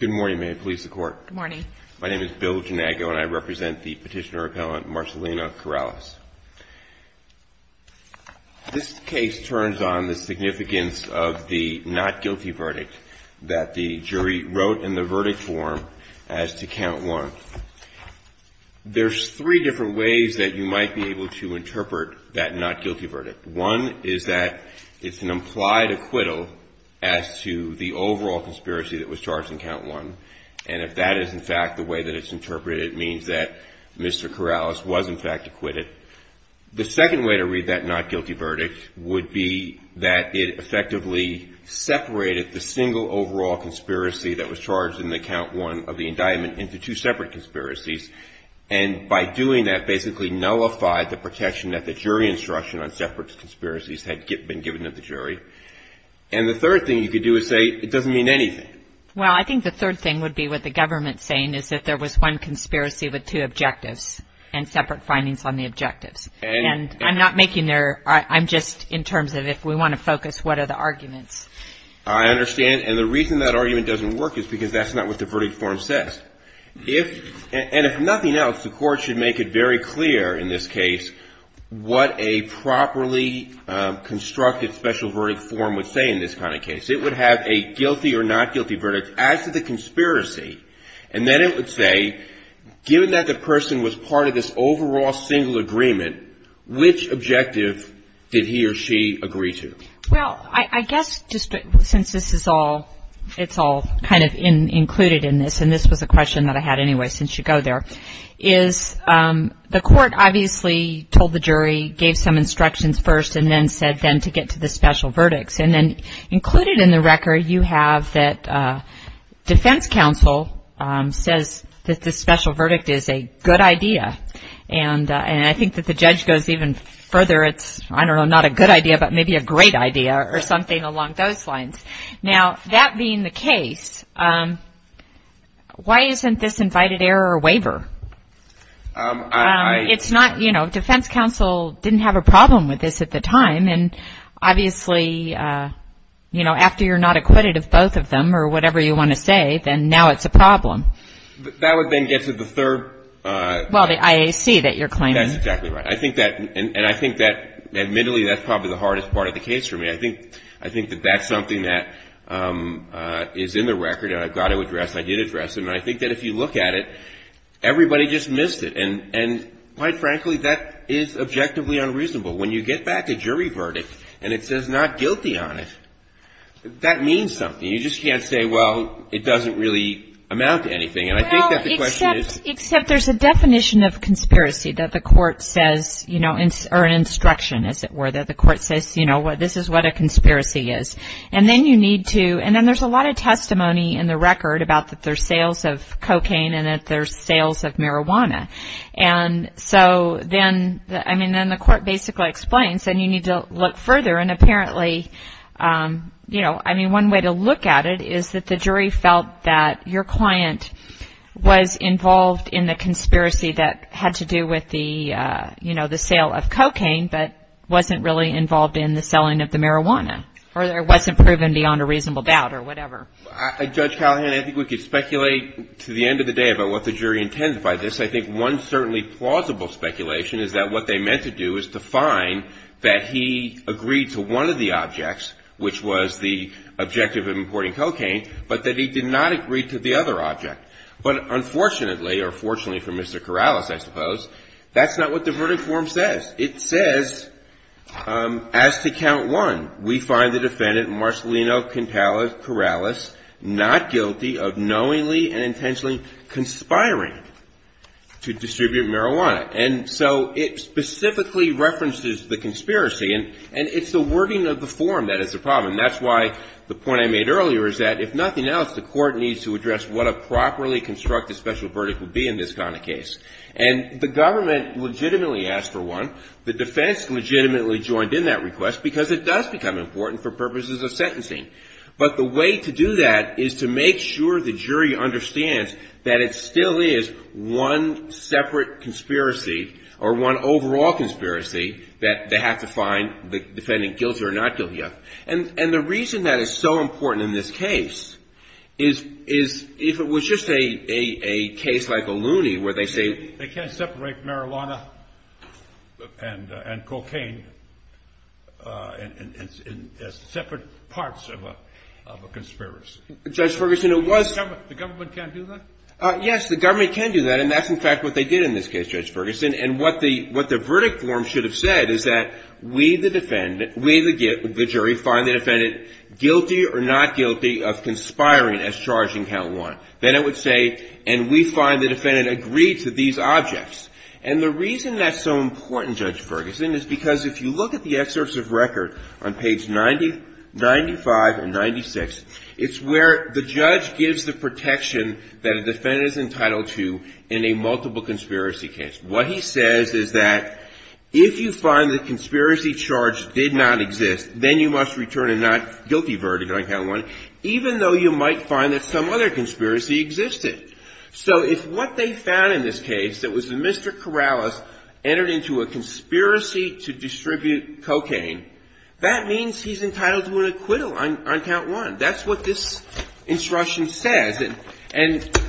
Good morning. My name is Bill Janago, and I represent the Petitioner-Appellant Marcellina Corrales. This case turns on the significance of the not guilty verdict that the jury wrote in the verdict form as to Count 1. There's three different ways that you might be able to interpret that not guilty verdict. One is that it's an implied acquittal as to the overall conspiracy that was charged in Count 1. And if that is, in fact, the way that it's interpreted, it means that Mr. Corrales was, in fact, acquitted. The second way to read that not guilty verdict would be that it effectively separated the single overall conspiracy that was charged in the Count 1 of the indictment into two separate conspiracies. And by doing that, basically nullified the protection that the jury instruction on separate conspiracies had been given to the jury. And the third thing you could do is say it doesn't mean anything. Well, I think the third thing would be what the government's saying is that there was one conspiracy with two objectives and separate findings on the objectives. And I'm not making there – I'm just in terms of if we want to focus, what are the arguments? I understand. And the reason that argument doesn't work is because that's not what the verdict form says. And if nothing else, the Court should make it very clear in this case what a properly constructed special verdict form would say in this kind of case. It would have a guilty or not guilty verdict as to the conspiracy. And then it would say, given that the person was part of this overall single agreement, which objective did he or she agree to? Well, I guess just since this is all – it's all kind of included in this, and this was a question that I had anyway since you go there, is the Court obviously told the jury, gave some instructions first, and then said then to get to the special verdicts. And then included in the record you have that defense counsel says that the special verdict is a good idea. And I think that the judge goes even further. It's, I don't know, not a good idea, but maybe a great idea or something along those lines. Now, that being the case, why isn't this invited error a waiver? It's not – you know, defense counsel didn't have a problem with this at the time. And obviously, you know, after you're not acquitted of both of them or whatever you want to say, then now it's a problem. That would then get to the third – Well, the IAC that you're claiming. That's exactly right. I think that – and I think that admittedly that's probably the hardest part of the case for me. I think that that's something that is in the record and I've got to address. I did address it. And I think that if you look at it, everybody just missed it. And quite frankly, that is objectively unreasonable. When you get back a jury verdict and it says not guilty on it, that means something. You just can't say, well, it doesn't really amount to anything. And I think that the question is – Well, except there's a definition of conspiracy that the court says, you know, or an instruction, as it were, that the court says, you know, this is what a conspiracy is. And then you need to – and then there's a lot of testimony in the record about that there's sales of cocaine and that there's sales of marijuana. And so then – I mean, then the court basically explains and you need to look further. And apparently, you know, I mean, one way to look at it is that the jury felt that your client was involved in the conspiracy that had to do with the, you know, the sale of cocaine but wasn't really involved in the selling of the marijuana or it wasn't proven beyond a reasonable doubt or whatever. Judge Callahan, I think we could speculate to the end of the day about what the jury intended by this. I think one certainly plausible speculation is that what they meant to do is to find that he agreed to one of the objects, which was the objective of importing cocaine, but that he did not agree to the other object. But unfortunately, or fortunately for Mr. Corrales, I suppose, that's not what the verdict form says. It says, as to count one, we find the defendant, Marcelino Cantalas Corrales, not guilty of knowingly and intentionally conspiring to distribute marijuana. And so it specifically references the conspiracy and it's the wording of the form that is the problem. That's why the point I made earlier is that if nothing else, the court needs to address what a properly constructed special verdict would be in this kind of case. And the government legitimately asked for one. The defense legitimately joined in that request because it does become important for purposes of sentencing. But the way to do that is to make sure the jury understands that it still is one separate conspiracy or one overall conspiracy that they have to find the defendant guilty or not guilty of. And the reason that is so important in this case is if it was just a case like Ohlone where they say they can't separate marijuana and cocaine as separate parts of a conspiracy. Judge Ferguson, it was. The government can't do that? Yes, the government can do that. And that's in fact what they did in this case, Judge Ferguson. And what the verdict form should have said is that we, the jury, find the defendant guilty or not guilty of conspiring as charging Ohlone. Then it would say and we find the defendant agreed to these objects. And the reason that's so important, Judge Ferguson, is because if you look at the excerpts of record on page 95 and 96, it's where the judge gives the protection that a defendant is entitled to in a multiple conspiracy case. What he says is that if you find the conspiracy charge did not exist, then you must return a not guilty verdict on count one, even though you might find that some other conspiracy existed. So if what they found in this case that was that Mr. Corrales entered into a conspiracy to distribute cocaine, that means he's entitled to an acquittal on count one. That's what this instruction says. And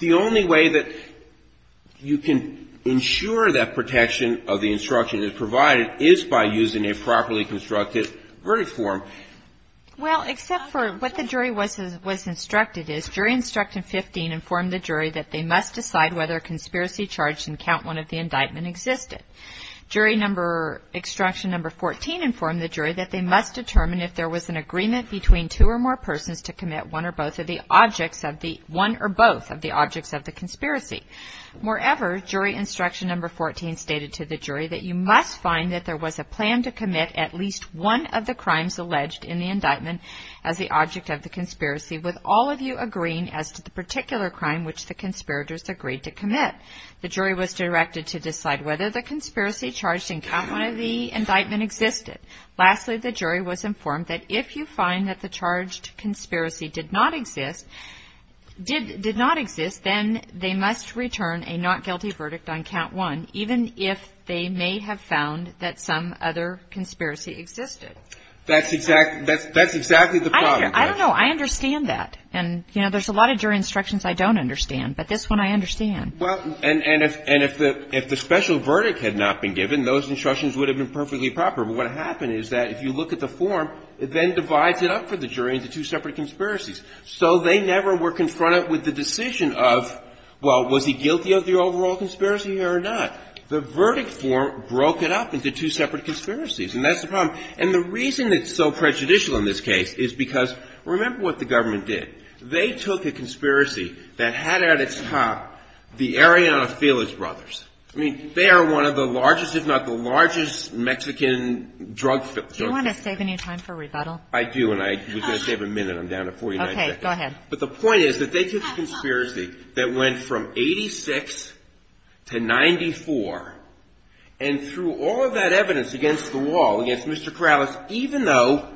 the only way that you can ensure that protection of the instruction is provided is by using a properly constructed verdict form. Well, except for what the jury was instructed is, jury instruction 15 informed the jury that they must decide whether a conspiracy charge in count one of the indictment existed. Jury number, instruction number 14 informed the jury that they must determine if there was an agreement between two or more persons to commit one or both of the objects of the, one or both of the objects of the conspiracy. Moreover, jury instruction number 14 stated to the jury that you must find that there was a plan to commit at least one of the crimes alleged in the indictment as the object of the conspiracy, with all of you agreeing as to the particular crime which the conspirators agreed to commit. The jury was directed to decide whether the conspiracy charged in count one of the indictment existed. Lastly, the jury was informed that if you find that the charged conspiracy did not exist, did not exist, then they must return a not guilty verdict on count one, even if they may have found that some other conspiracy existed. That's exactly, that's exactly the problem. I don't know. I understand that. And, you know, there's a lot of jury instructions I don't understand, but this one I understand. Well, and, and if, and if the, if the special verdict had not been given, those instructions would have been perfectly proper. But what happened is that if you look at the form, it then divides it up for the jury into two separate conspiracies. So they never were confronted with the decision of, well, was he guilty of the overall conspiracy or not? The verdict form broke it up into two separate conspiracies, and that's the problem. And the reason it's so prejudicial in this case is because, remember what the government did. They took a conspiracy that had at its top the Arellano Felix brothers. I mean, they are one of the largest, if not the largest Mexican drug, drug cartels. Do you want to save any time for rebuttal? I do, and I was going to save a minute. I'm down to 49 seconds. Okay. Go ahead. But the point is that they took a conspiracy that went from 86 to 94, and threw all of that evidence against the wall, against Mr. Corrales, even though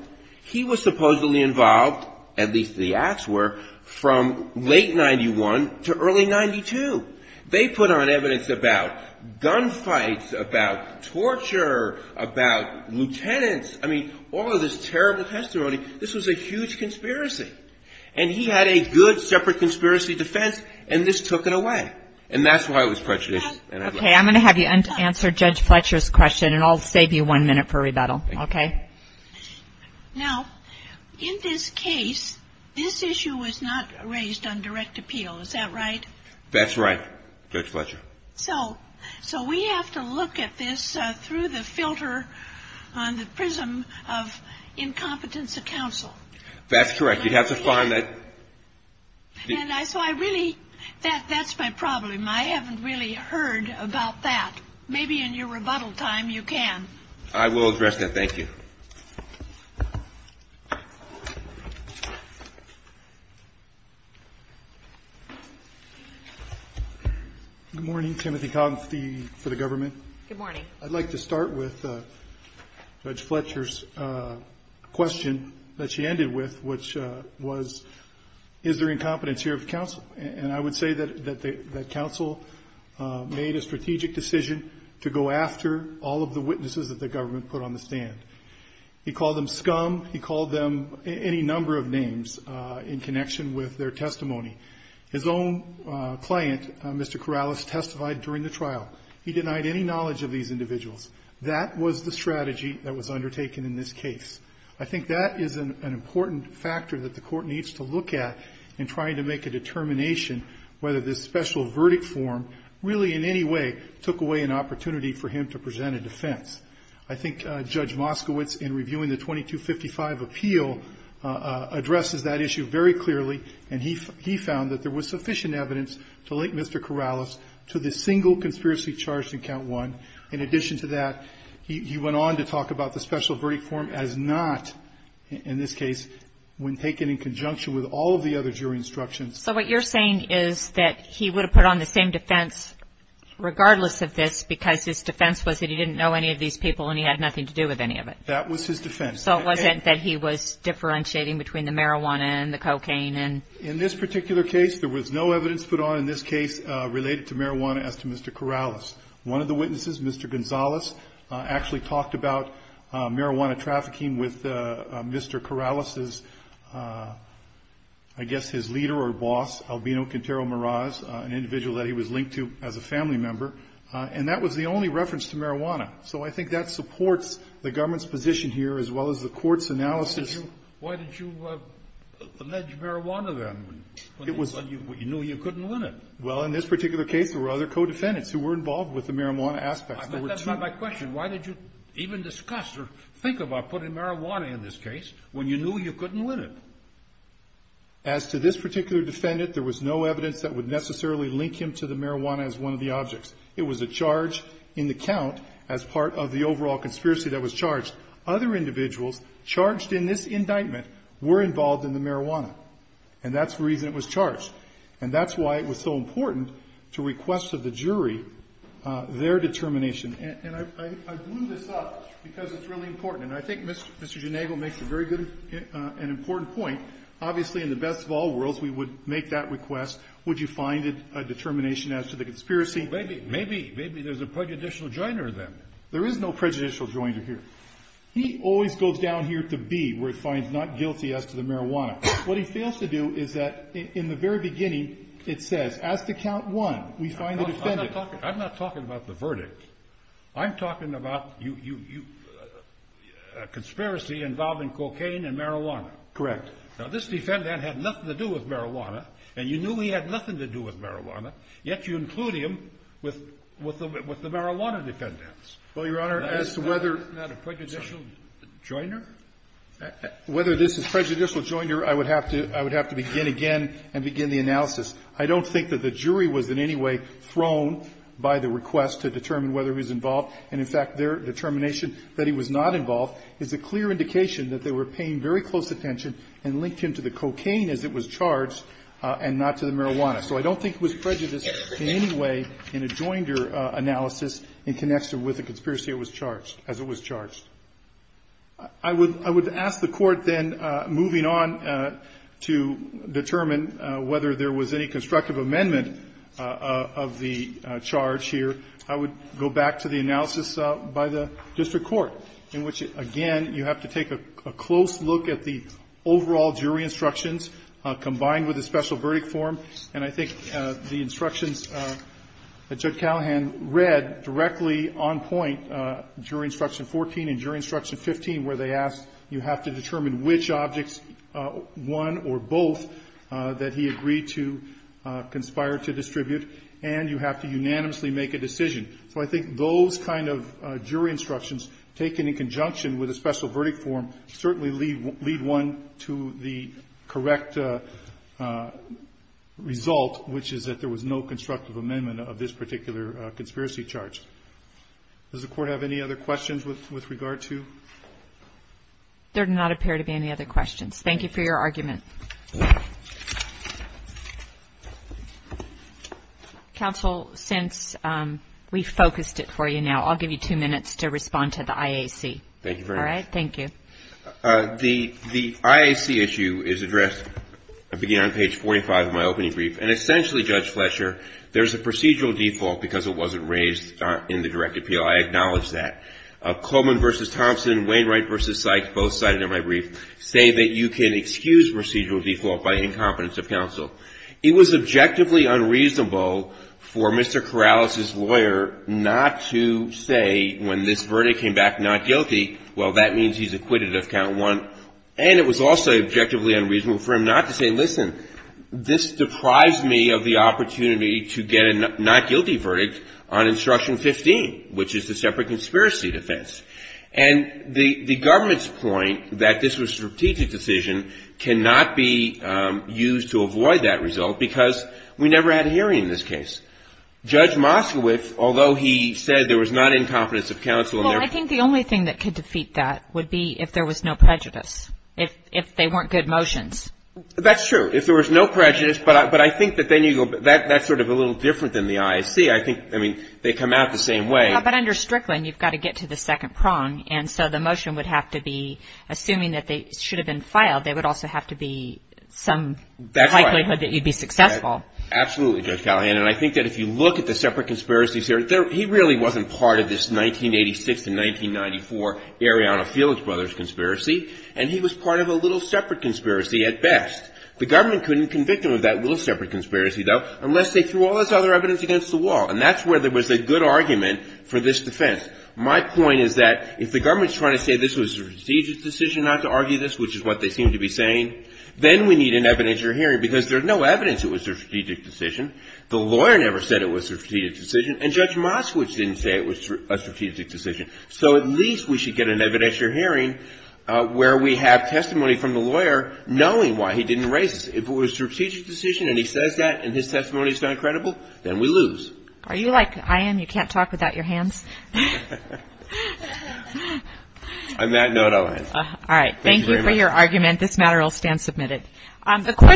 he was supposedly involved, at least the acts were, from late 91 to early 92. They put on evidence about gunfights, about torture, about lieutenants. I mean, all of this terrible testimony, this was a huge conspiracy. And he had a good separate conspiracy defense, and this took it away. And that's why it was prejudicial. Okay. I'm going to have you answer Judge Fletcher's question, and I'll save you one minute for rebuttal. Okay. Now, in this case, this issue was not raised on direct appeal. Is that right? That's right, Judge Fletcher. So we have to look at this through the filter on the prism of incompetence of counsel. That's correct. You'd have to find that. And so I really – that's my problem. I haven't really heard about that. Maybe in your rebuttal time you can. I will address that. Thank you. Good morning. Good morning. I'd like to start with Judge Fletcher's question that she ended with, which was, is there incompetence here of counsel? And I would say that counsel made a strategic decision to go after all of the witnesses that the government put on the stand. He called them scum. He called them any number of names in connection with their testimony. His own client, Mr. Corrales, testified during the trial. He denied any knowledge of these individuals. That was the strategy that was undertaken in this case. I think that is an important factor that the Court needs to look at in trying to make a determination whether this special verdict form really in any way took away an opportunity for him to present a defense. I think Judge Moskowitz, in reviewing the 2255 appeal, addresses that issue very clearly, and he found that there was sufficient evidence to link Mr. Corrales to the single conspiracy charge in Count 1. In addition to that, he went on to talk about the special verdict form as not, in this case, when taken in conjunction with all of the other jury instructions. So what you're saying is that he would have put on the same defense regardless of this because his defense was that he didn't know any of these people and he had nothing to do with any of it. That was his defense. So it wasn't that he was differentiating between the marijuana and the cocaine? In this particular case, there was no evidence put on in this case related to marijuana as to Mr. Corrales. One of the witnesses, Mr. Gonzalez, actually talked about marijuana trafficking with Mr. Corrales' I guess his leader or boss, Albino Quintero-Moraz, an individual that he was linked to as a family member, and that was the only reference to marijuana. So I think that supports the government's position here as well as the court's analysis. Why did you allege marijuana then when you knew you couldn't win it? Well, in this particular case, there were other co-defendants who were involved with the marijuana aspect. That's not my question. Why did you even discuss or think about putting marijuana in this case when you knew you couldn't win it? As to this particular defendant, there was no evidence that would necessarily link him to the marijuana as one of the objects. It was a charge in the count as part of the overall conspiracy that was charged. Other individuals charged in this indictment were involved in the marijuana, and that's the reason it was charged. And that's why it was so important to request of the jury their determination. And I blew this up because it's really important. And I think Mr. Genego makes a very good and important point. Obviously, in the best of all worlds, we would make that request. Would you find it a determination as to the conspiracy? Maybe. Maybe. Maybe there's a prejudicial joiner then. There is no prejudicial joiner here. He always goes down here to B, where it finds not guilty as to the marijuana. What he fails to do is that in the very beginning, it says, as to count 1, we find the defendant. I'm not talking about the verdict. I'm talking about a conspiracy involving cocaine and marijuana. Correct. Now, this defendant had nothing to do with marijuana, and you knew he had nothing to do with marijuana, yet you include him with the marijuana defendants. Well, Your Honor, as to whether... Isn't that a prejudicial joiner? Whether this is a prejudicial joiner, I would have to begin again and begin the analysis. I don't think that the jury was in any way thrown by the request to determine whether he was involved. And, in fact, their determination that he was not involved is a clear indication that they were paying very close attention and linked him to the cocaine as it was charged and not to the marijuana. So I don't think it was prejudiced in any way in a joiner analysis in connection with the conspiracy as it was charged. I would ask the Court then, moving on to determine whether there was any constructive amendment of the charge here, I would go back to the analysis by the district court, in which, again, you have to take a close look at the overall jury instructions combined with the special verdict form. And I think the instructions that Judge Callahan read directly on point during Instruction 14 and during Instruction 15, where they asked you have to determine which objects, one or both, that he agreed to conspire to distribute, and you have to unanimously make a decision. So I think those kind of jury instructions, taken in conjunction with a special verdict form, certainly lead one to the correct result, which is that there was no constructive amendment of this particular conspiracy charge. Does the Court have any other questions with regard to? There do not appear to be any other questions. Thank you for your argument. Counsel, since we've focused it for you now, I'll give you two minutes to respond to the IAC. Thank you very much. All right? Thank you. The IAC issue is addressed beginning on page 45 of my opening brief. And essentially, Judge Fletcher, there's a procedural default because it wasn't raised in the direct appeal. I acknowledge that. Coleman v. Thompson, Wainwright v. Sykes, both cited in my brief, say that you can excuse procedural default by incompetence of counsel. It was objectively unreasonable for Mr. Corrales' lawyer not to say when this verdict came back not guilty, well, that means he's acquitted of count one. And it was also objectively unreasonable for him not to say, listen, this It was a strategic decision on instruction 15, which is the separate conspiracy defense. And the government's point that this was a strategic decision cannot be used to avoid that result because we never had a hearing in this case. Judge Moskowitz, although he said there was not incompetence of counsel. Well, I think the only thing that could defeat that would be if there was no prejudice, if they weren't good motions. That's true. If there was no prejudice. But I think that then you go, that's sort of a little different than the ISC. I think, I mean, they come out the same way. But under Strickland, you've got to get to the second prong. And so the motion would have to be, assuming that they should have been filed, they would also have to be some likelihood that you'd be successful. Absolutely, Judge Callahan. And I think that if you look at the separate conspiracies here, he really wasn't part of this 1986 to 1994 Arianna Felix Brothers conspiracy. And he was part of a little separate conspiracy at best. The government couldn't convict him of that little separate conspiracy, though, unless they threw all this other evidence against the wall. And that's where there was a good argument for this defense. My point is that if the government is trying to say this was a strategic decision not to argue this, which is what they seem to be saying, then we need an evidentiary hearing because there's no evidence it was a strategic decision. The lawyer never said it was a strategic decision. And Judge Moskowitz didn't say it was a strategic decision. So at least we should get an evidentiary hearing where we have testimony from a lawyer knowing why he didn't erase it. If it was a strategic decision and he says that and his testimony is not credible, then we lose. Are you like I am? You can't talk without your hands? On that note, I'll end. All right. Thank you for your argument. This matter will stand submitted.